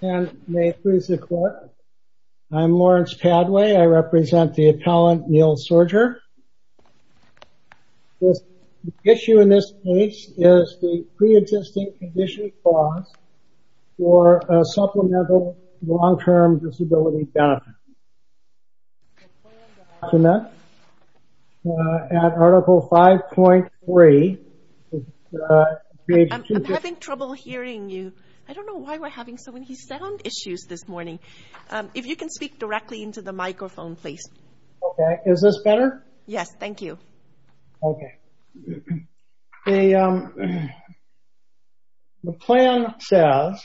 May it please the court I'm Lawrence Padway I represent the appellant Neil Sorger. The issue in this case is the pre-existing condition clause for a supplemental long-term disability benefit. At article 5.3 I'm having trouble hearing you I don't know why we're having so many sound issues this morning if you can speak directly into the microphone please. Okay is this better? Yes thank you. Okay the plan says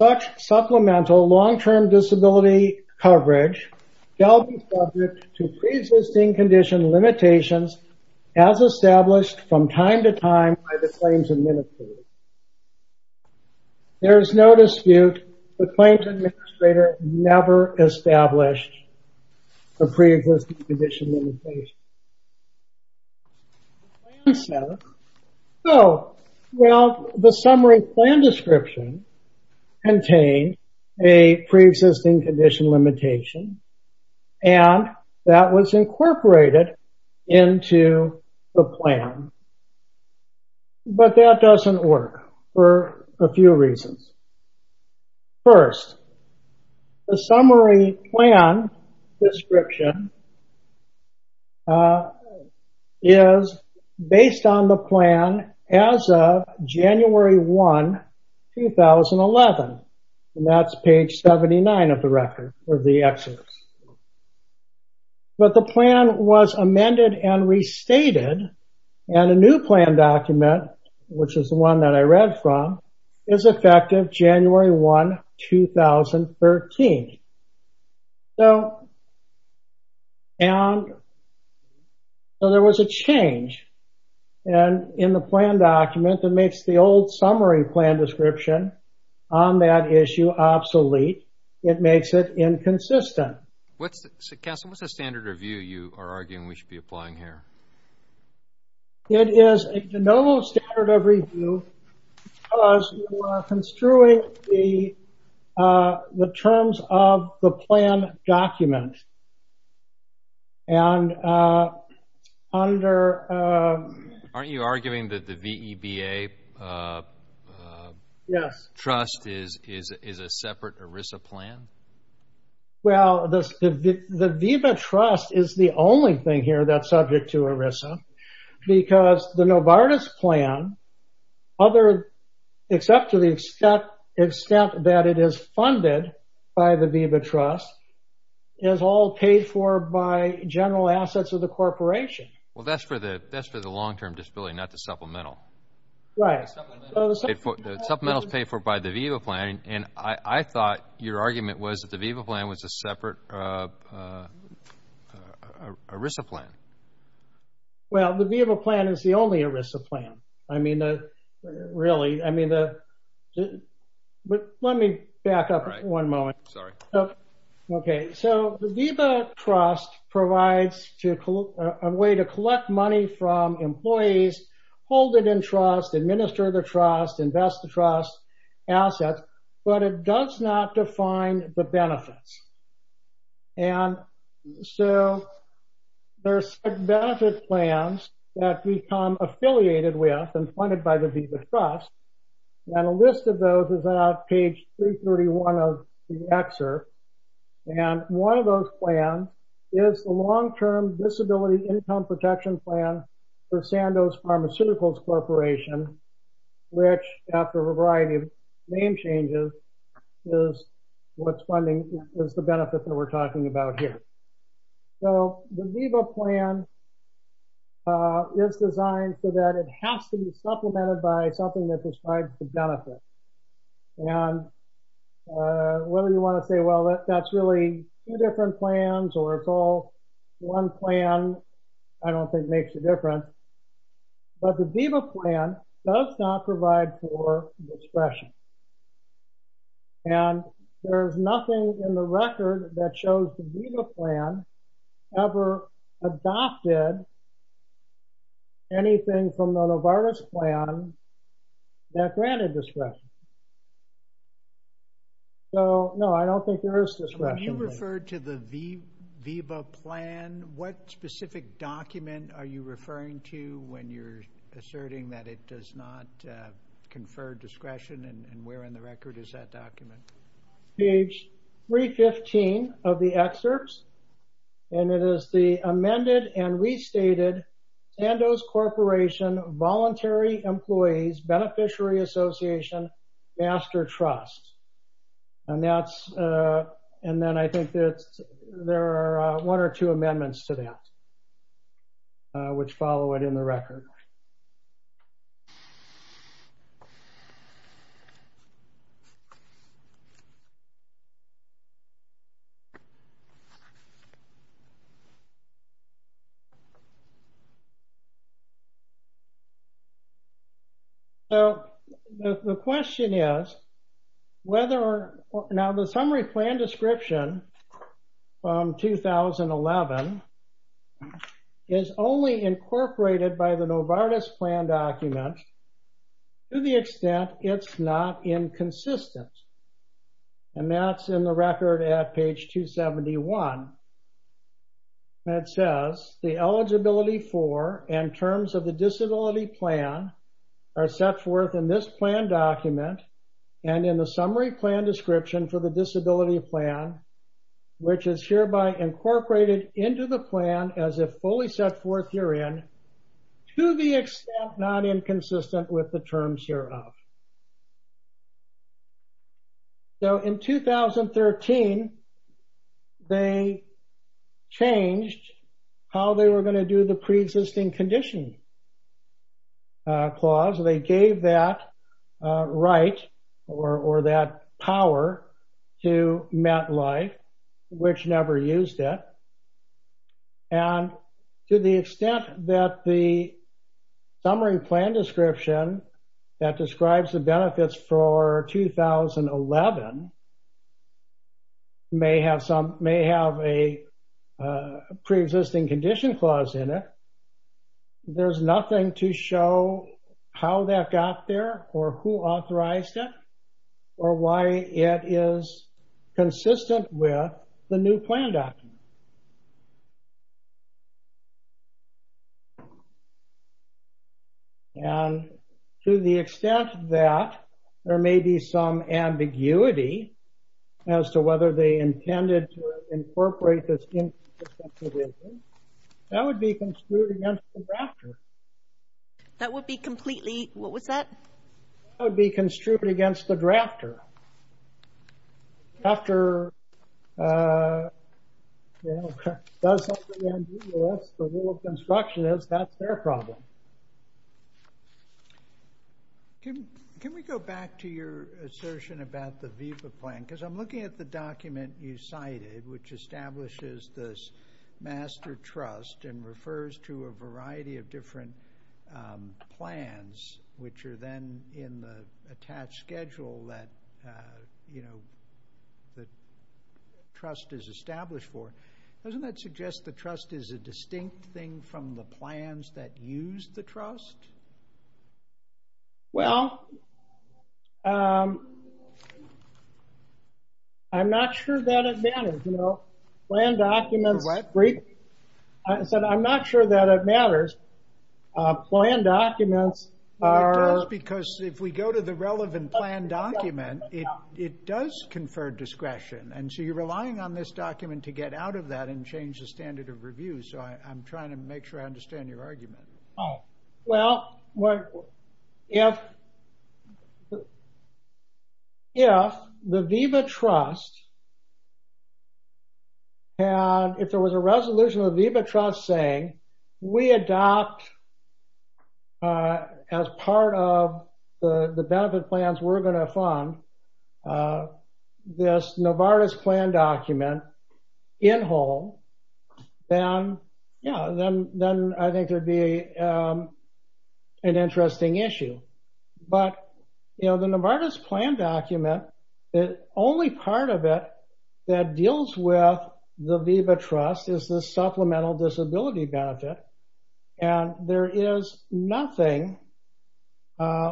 such supplemental long-term disability coverage shall be subject to pre-existing condition limitations as established from time to time by the claims administrator. There is no dispute the claims administrator never established a pre-existing condition limitation. The summary plan description contains a pre-existing condition limitation and that was incorporated into the plan but that doesn't work for a few reasons. First the summary plan description is based on the plan as of January 1 2011 and that's page 79 of the record of the exodus. But the plan was amended and restated and a new plan document which is the one that I read from is effective January 1 2013. So there was a change and in the plan document that makes the old summary plan description on that issue obsolete it makes it inconsistent. What's the standard review you are arguing we are construing the the terms of the plan document and under aren't you arguing that the VEBA trust is is a separate ERISA plan? Well the VEBA trust is the only thing here that's subject to ERISA because the Novartis plan other except to the extent that it is funded by the VEBA trust is all paid for by general assets of the corporation. Well that's for the that's for the long-term disability not the supplemental. Right. Supplemental is paid for by the VEBA plan and I thought your argument was that the VEBA plan was a separate ERISA plan. Well the VEBA plan is the only ERISA plan. I mean the really I mean the but let me back up one moment. Sorry. Okay so the VEBA trust provides to a way to collect money from employees hold it in trust administer the trust invest the trust assets but it does not define the benefits and so there's benefit plans that become affiliated with and funded by the VEBA trust and a list of those is that page 331 of the excerpt and one of those plans is the long-term disability income protection plan for Sandoz Pharmaceuticals which after a variety of name changes is what's funding is the benefit that we're talking about here. So the VEBA plan is designed so that it has to be supplemented by something that describes the benefit and whether you want to say well that's really two different plans or it's all one plan I don't think makes the difference but the VEBA plan does not provide for discretion and there's nothing in the record that shows the VEBA plan ever adopted anything from the Novartis plan that granted discretion. So no I don't think there is discretion. When you refer to the VEBA plan what specific document are you referring to when you're asserting that it does not confer discretion and where in the record is that document? Page 315 of the excerpts and it is the amended and restated Sandoz Corporation Voluntary Employees Beneficiary Association Master Trust and that's and then I think that there are one or two amendments to that which follow it in the record. So the question is whether or not the summary plan description from 2011 is only incorporated by the Novartis plan document to the extent it's not inconsistent and that's in the record at page 271 that says the eligibility for and terms of the disability plan are set forth in this plan document and in the summary plan description for the disability plan which is hereby incorporated into the plan as if fully set forth herein to the extent not inconsistent with the terms hereof. So in 2013 they changed how they were going to do the pre-existing condition clause. They gave that right or that power to that life which never used it and to the extent that the summary plan description that describes the benefits for 2011 may have some may have a pre-existing condition clause in it there's nothing to show how that got there or who would be consistent with the new plan document and to the extent that there may be some ambiguity as to whether they intended to incorporate this inconsistent provision, that would be construed against the drafter. That would be completely what was that? That would be the drafter. If the drafter does something and the rule of construction is, that's their problem. Can we go back to your assertion about the VIVA plan because I'm looking at the document you cited which establishes this master trust and refers to a variety of different plans which are then in the attached schedule that the trust is established for. Doesn't that suggest the trust is a distinct thing from the plans that use the trust? Well, I'm not sure that it matters. You know, plan documents, I said I'm not sure that it matters. Plan documents are, because if we go to the relevant plan document it does confer discretion and so you're relying on this document to get out of that and change the standard of review so I'm trying to And if there was a resolution of the VIVA trust saying we adopt as part of the benefit plans we're going to fund this Novartis plan document in whole, then yeah, then I think there'd be an interesting issue. But, you know, the Novartis plan document, the only part of it that deals with the VIVA trust is the supplemental disability benefit and there is nothing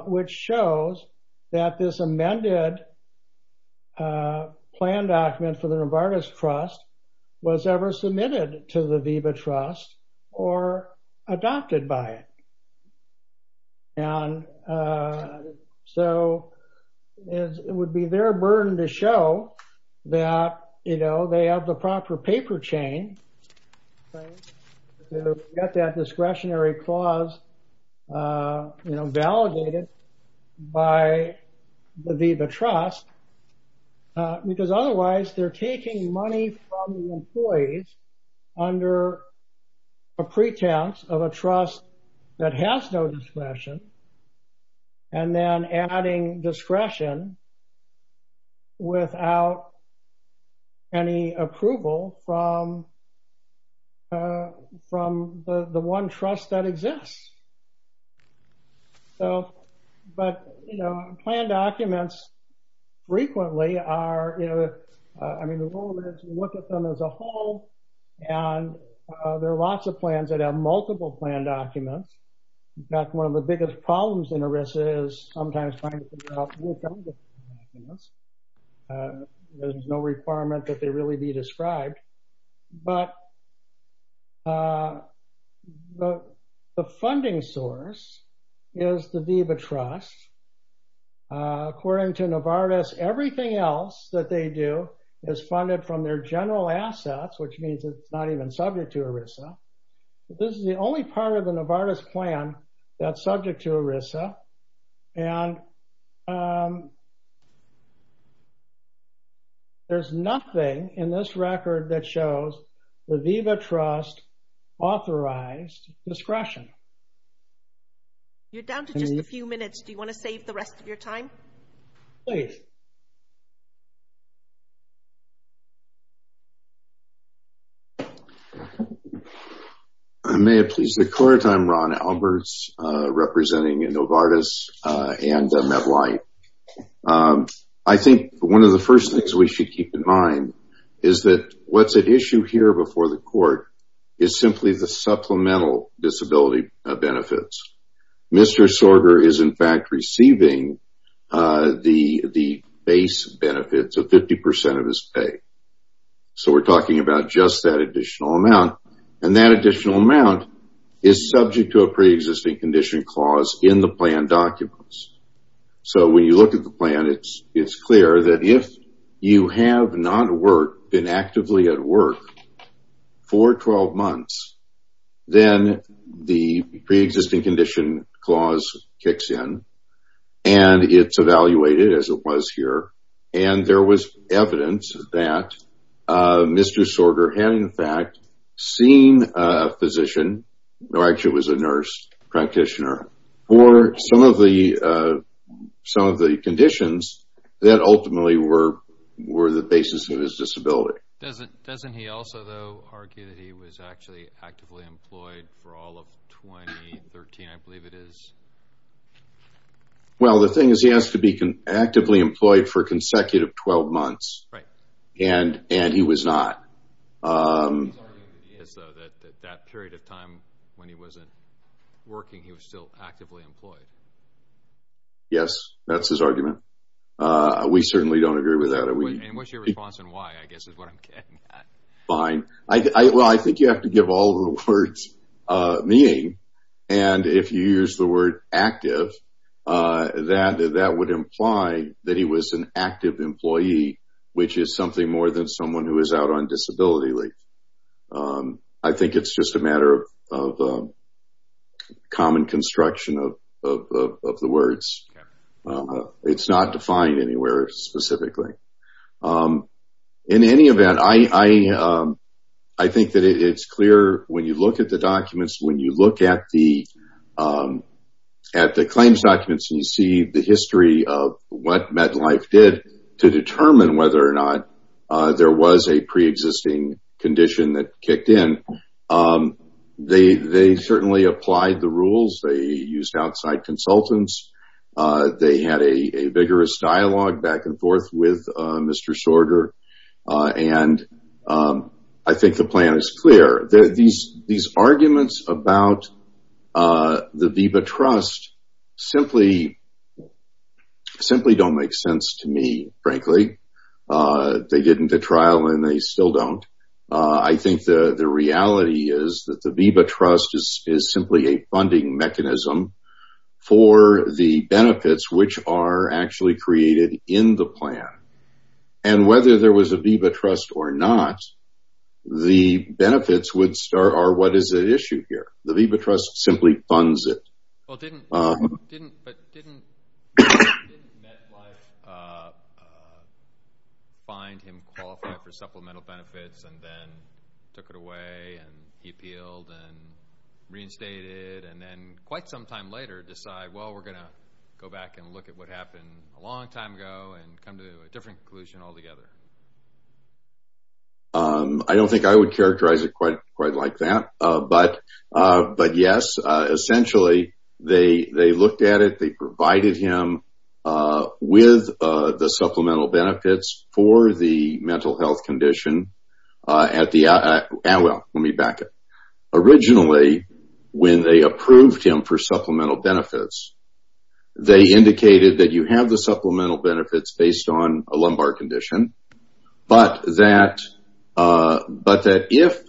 which shows that this amended plan document for the Novartis trust was ever submitted to the VIVA trust or adopted by it. And so it would be their burden to show that, you know, they have the proper paper chain to get that discretionary clause you know, validated by the VIVA trust. Because otherwise they're taking money from the employees under a pretense of a trust that has no discretion. And then adding discretion without any approval from from the one trust that exists. So, but, you know, plan documents frequently are, you know, I mean, the rule is you look at them as a whole and there are lots of plans that have multiple plan documents. In fact, one of the biggest problems in ERISA is sometimes trying to figure out who comes with the plan documents. There's no requirement that they really be described, but the funding source is the VIVA trust. According to Novartis, everything else that they do is funded from their general assets, which means it's not even subject to ERISA. This is the only part of the Novartis plan that's subject to ERISA and there's nothing in this record that shows the VIVA trust authorized discretion. You're down to just a few minutes. Do you want to save the rest of your time? Please. May it please the court, I'm Ron Alberts, representing Novartis and Medline. I think one of the first things we should keep in mind is that what's at issue here before the court is simply the supplemental disability benefits. Mr. Sorger is, in fact, receiving the base benefits of 50% of his pay. So, we're talking about just that additional amount and that additional amount is subject to a pre-existing condition clause in the plan documents. So, when you look at the plan, it's clear that if you have not been actively at work for 12 months, then the pre-existing condition clause kicks in and it's evaluated, as it was here, and there was evidence that Mr. Sorger had, in fact, seen a physician, or actually it was a nurse practitioner, for some of the conditions that ultimately were the basis of his disability. Doesn't he also, though, argue that he was actually actively employed for all of 2013, I believe it is? Well, the thing is he has to be actively employed for consecutive 12 months, and he was not. His argument is, though, that that period of time when he wasn't working, he was still actively employed. Yes, that's his argument. We certainly don't agree with that. And what's your response and why, I guess, is what I'm getting at. Fine. Well, I think you have to give all the words meaning, and if you use the word active, that would imply that he was an active employee, which is something more than someone who is out on disability leave. I think it's just a matter of common construction of the words. It's not defined anywhere specifically. In any event, I think that it's clear when you look at the documents, when you look at the claims documents, and you see the history of what MedlineLife did to determine whether or not there was a pre-existing condition that kicked in. They certainly applied the rules. They used outside consultants. They had a vigorous dialogue back and forth with Mr. Sorter, and I think the plan is clear. These arguments about the VEBA trust simply don't make sense to me, frankly. They get into trial and they still don't. I think the reality is that the VEBA trust is simply a funding mechanism for the benefits, which are actually created in the plan. And whether there was a VEBA trust or not, the benefits are what is at issue here. The VEBA trust simply funds it. Well, didn't MedlineLife find him qualified for supplemental benefits and then took it away and he appealed and reinstated? And then quite some time later decide, well, we're going to go back and look at what happened a long time ago and come to a different conclusion altogether. I don't think I would characterize it quite like that. But yes, essentially, they looked at it. They provided him with the supplemental benefits for the mental health condition. Originally, when they approved him for supplemental benefits, they indicated that you have the supplemental benefits based on a lumbar condition. But that if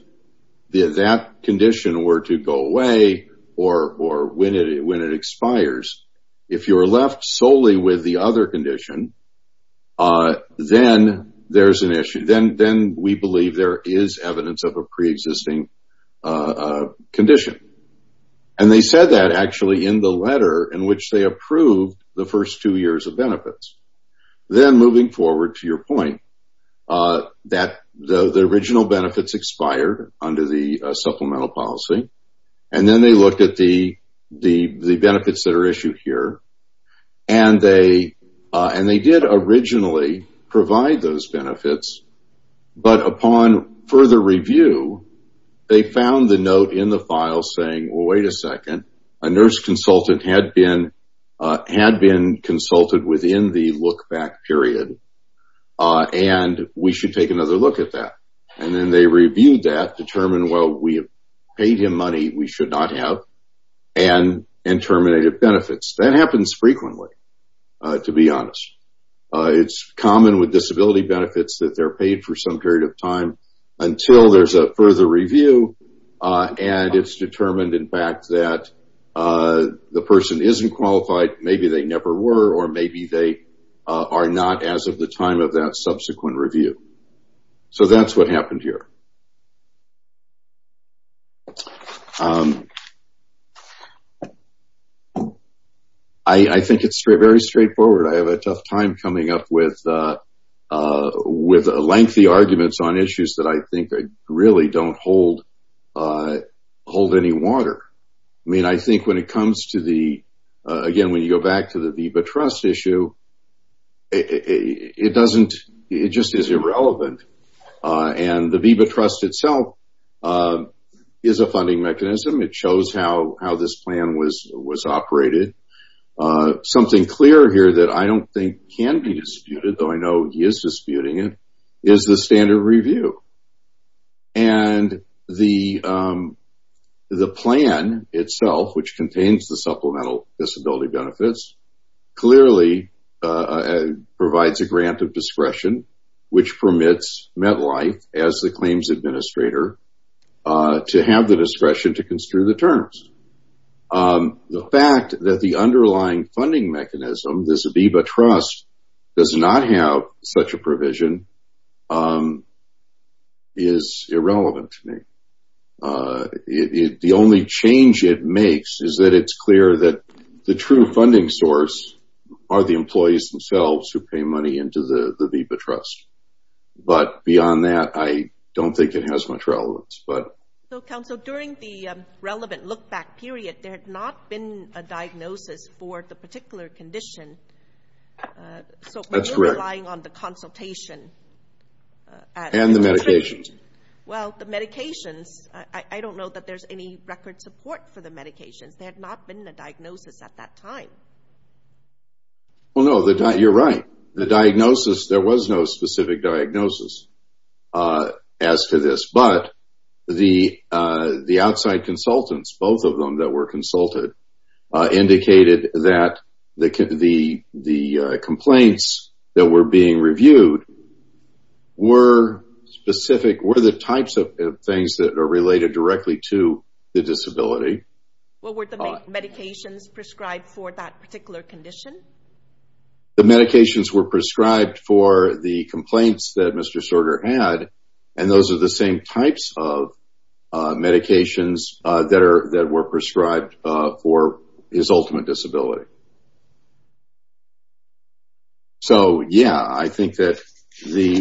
that condition were to go away or when it expires, if you're left solely with the other condition, then there's an issue. Then we believe there is evidence of a pre-existing condition. And they said that actually in the letter in which they approved the first two years of benefits. Then moving forward to your point that the original benefits expired under the supplemental policy. And then they looked at the benefits that are issued here and they did originally provide those benefits. But upon further review, they found the note in the file saying, well, wait a second. A nurse consultant had been consulted within the look back period and we should take another look at that. And then they reviewed that, determined, well, we have paid him money we should not have and terminated benefits. That happens frequently, to be honest. It's common with disability benefits that they're paid for some period of time until there's a further review. And it's determined, in fact, that the person isn't qualified. Maybe they never were or maybe they are not as of the time of that subsequent review. So that's what happened here. I think it's very straightforward. I have a tough time coming up with lengthy arguments on issues that I think really don't hold any water. I mean, I think when it comes to the, again, when you go back to the VBA trust issue, it just is irrelevant. And the VBA trust itself is a funding mechanism. It shows how this plan was operated. Something clear here that I don't think can be disputed, though I know he is disputing it, is the standard review. And the plan itself, which contains the supplemental disability benefits, clearly provides a grant of discretion, which permits MetLife, as the claims administrator, to have the discretion to construe the terms. The fact that the underlying funding mechanism, this VBA trust, does not have such a provision is irrelevant to me. The only change it makes is that it's clear that the true funding source are the employees themselves who pay money into the VBA trust. But beyond that, I don't think it has much relevance. So, counsel, during the relevant look-back period, there had not been a diagnosis for the particular condition. So we're relying on the consultation. And the medication. Well, the medications, I don't know that there's any record support for the medications. There had not been a diagnosis at that time. Well, no, you're right. The diagnosis, there was no specific diagnosis as to this. But the outside consultants, both of them that were consulted, indicated that the complaints that were being reviewed were specific, were the types of things that are related directly to the disability. Well, were the medications prescribed for that particular condition? The medications were prescribed for the complaints that Mr. Sorter had. And those are the same types of medications that were prescribed for his ultimate disability. So, yeah, I think that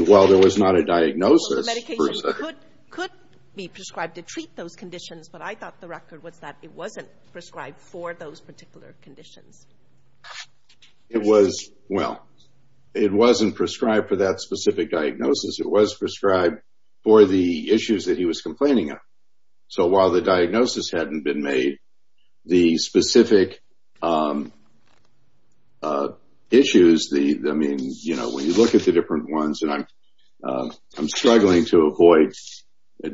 while there was not a diagnosis. The medication could be prescribed to treat those conditions, but I thought the record was that it wasn't prescribed for those particular conditions. It was, well, it wasn't prescribed for that specific diagnosis. It was prescribed for the issues that he was complaining of. So while the diagnosis hadn't been made, the specific issues, I mean, you know, when you look at the different ones, and I'm struggling to avoid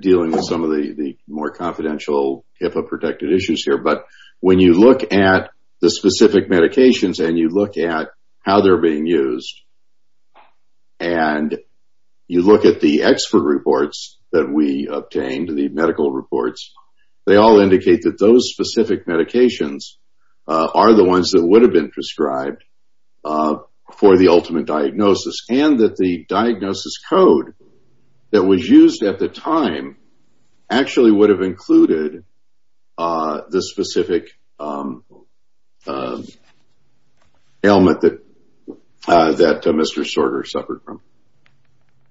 dealing with some of the more confidential HIPAA-protected issues here. But when you look at the specific medications and you look at how they're being used, and you look at the expert reports that we obtained, the medical reports, they all indicate that those specific medications are the ones that would have been prescribed for the ultimate diagnosis. And that the diagnosis code that was used at the time actually would have included the specific ailment that Mr. Sorter suffered from.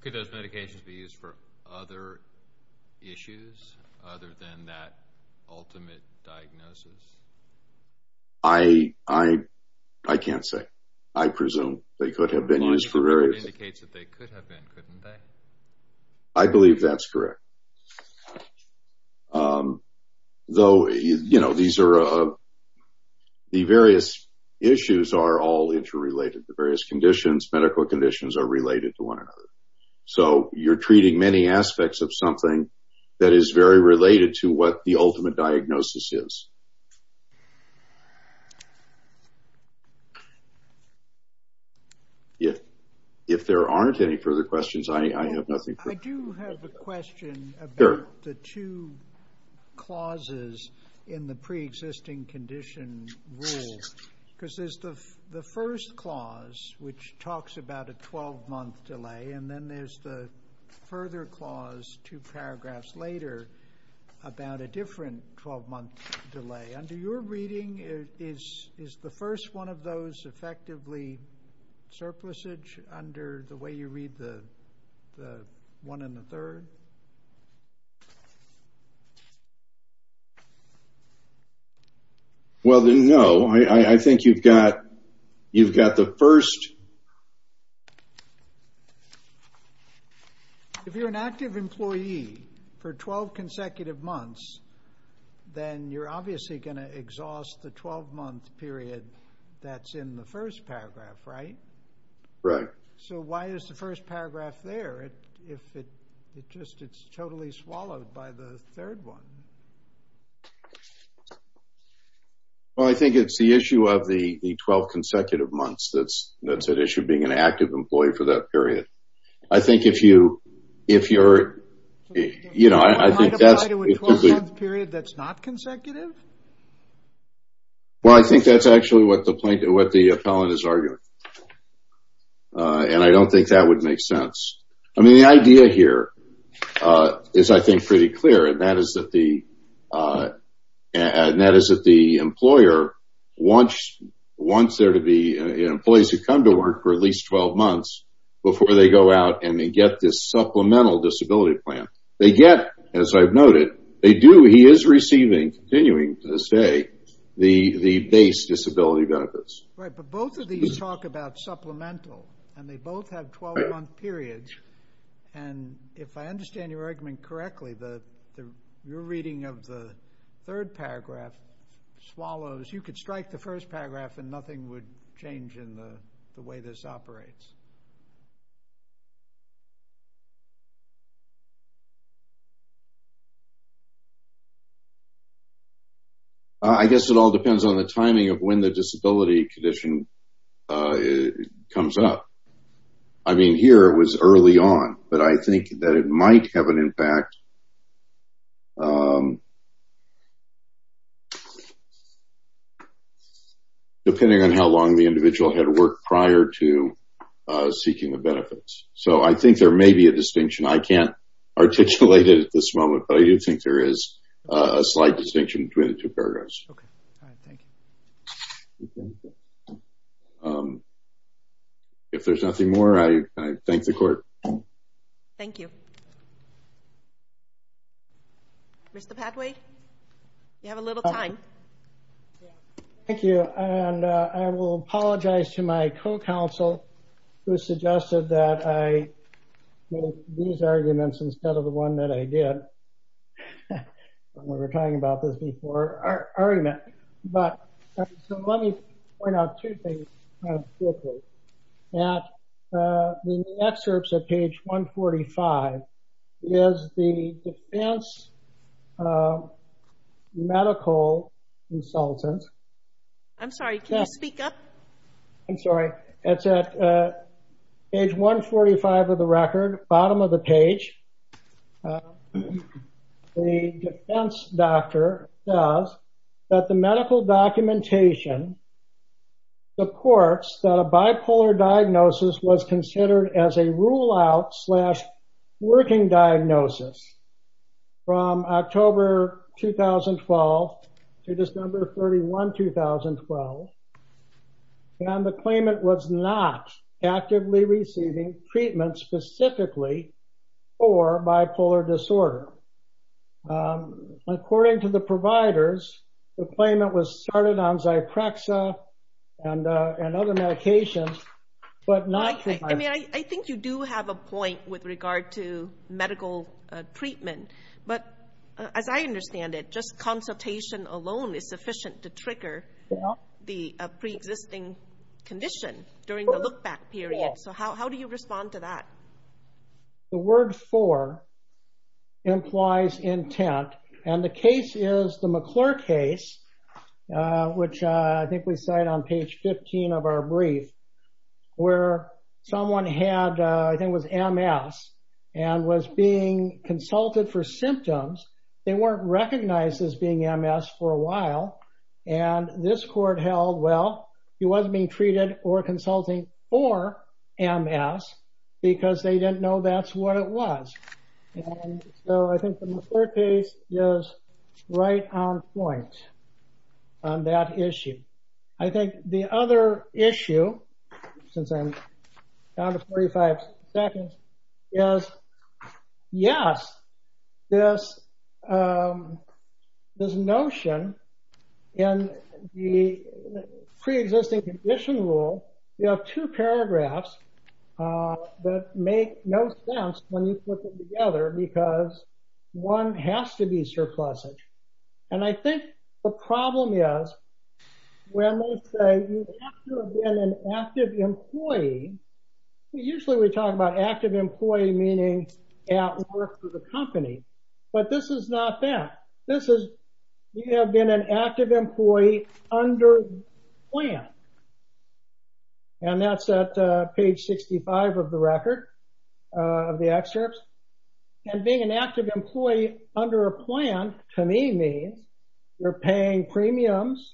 Could those medications be used for other issues other than that ultimate diagnosis? I can't say. I presume they could have been used for various. It indicates that they could have been, couldn't they? I believe that's correct. Though, you know, these are the various issues are all interrelated. The various conditions, medical conditions are related to one another. So you're treating many aspects of something that is very related to what the ultimate diagnosis is. If there aren't any further questions, I have nothing. I do have a question about the two clauses in the pre-existing condition rule. Because there's the first clause, which talks about a 12-month delay. And then there's the further clause, two paragraphs later, about a different 12-month delay. Under your reading, is the first one of those effectively surplusage under the way you read the one in the third? Well, no. I think you've got the first. If you're an active employee for 12 consecutive months, then you're obviously going to exhaust the 12-month period that's in the first paragraph, right? Right. So why is the first paragraph there if it just it's totally swallowed by the third one? Well, I think it's the issue of the 12 consecutive months that's an issue of being an active employee for that period. I think if you're, you know, I think that's because the period that's not consecutive. Well, I think that's actually what the plaintiff, what the appellant is arguing. And I don't think that would make sense. I mean, the idea here is, I think, pretty clear. And that is that the employer wants there to be employees who come to work for at least 12 months before they go out and they get this supplemental disability plan. They get, as I've noted, they do. He is receiving, continuing to this day, the base disability benefits. Right. But both of these talk about supplemental, and they both have 12-month periods. And if I understand your argument correctly, the reading of the third paragraph swallows, you could strike the first paragraph and nothing would change in the way this operates. I guess it all depends on the timing of when the disability condition comes up. I mean, here it was early on, but I think that it might have an impact. Depending on how long the individual had worked prior to seeking the benefits. So I think there may be a distinction. I can't articulate it at this moment, but I do think there is a slight distinction between the two paragraphs. Okay. All right. Thank you. If there's nothing more, I thank the court. Thank you. Mr. Padway, you have a little time. Thank you. And I will apologize to my co-counsel who suggested that I make these arguments instead of the one that I did. We were talking about this before. I already met. But let me point out two things. The excerpts at page 145 is the defense medical consultant. I'm sorry. Can you speak up? I'm sorry. It's at page 145 of the record, bottom of the page. The defense doctor says that the medical documentation supports that a bipolar diagnosis was considered as a rule out slash working diagnosis from October 2012 to December 31, 2012. And the claimant was not actively receiving treatment specifically for bipolar disorder. According to the providers, the claimant was started on Zyprexa and other medications, but not treatment. I mean, I think you do have a point with regard to medical treatment, but as I understand it, just consultation alone is sufficient to trigger the pre-existing condition during the look back period. So how do you respond to that? The word for implies intent. And the case is the McClure case, which I think we cite on page 15 of our brief, where someone had, I think it was MS, and was being consulted for symptoms. They weren't recognized as being MS for a while. And this court held, well, he wasn't being treated or consulting for MS because they didn't know that's what it was. So I think the McClure case is right on point on that issue. I think the other issue, since I'm down to 45 seconds, is, yes, this notion in the pre-existing condition rule, you have two paragraphs that make no sense when you put them together because one has to be surplusage. And I think the problem is when they say you have to have been an active employee, usually we talk about active employee meaning at work for the company, but this is not that. This is, you have been an active employee under a plan. And that's at page 65 of the record, of the excerpts. And being an active employee under a plan, to me, means you're paying premiums,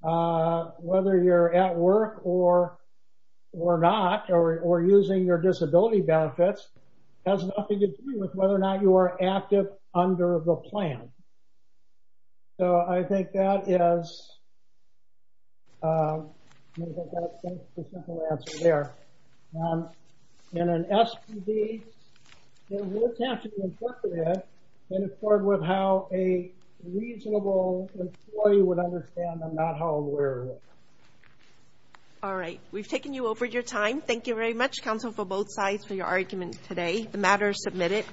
whether you're at work or not, or using your disability benefits, has nothing to do with whether or not you are active under the plan. So I think that is, I think that's the simple answer there. In an SPD, it would have to be interpreted in accord with how a reasonable employee would understand and not how aware of it. All right, we've taken you over your time. Thank you very much, counsel, for both sides for your argument today. The matter is submitted.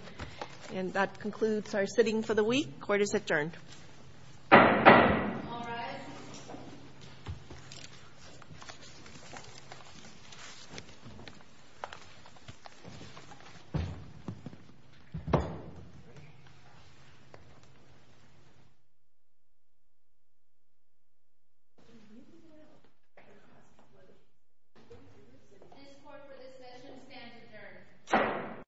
And that concludes our sitting for the week. Court is adjourned.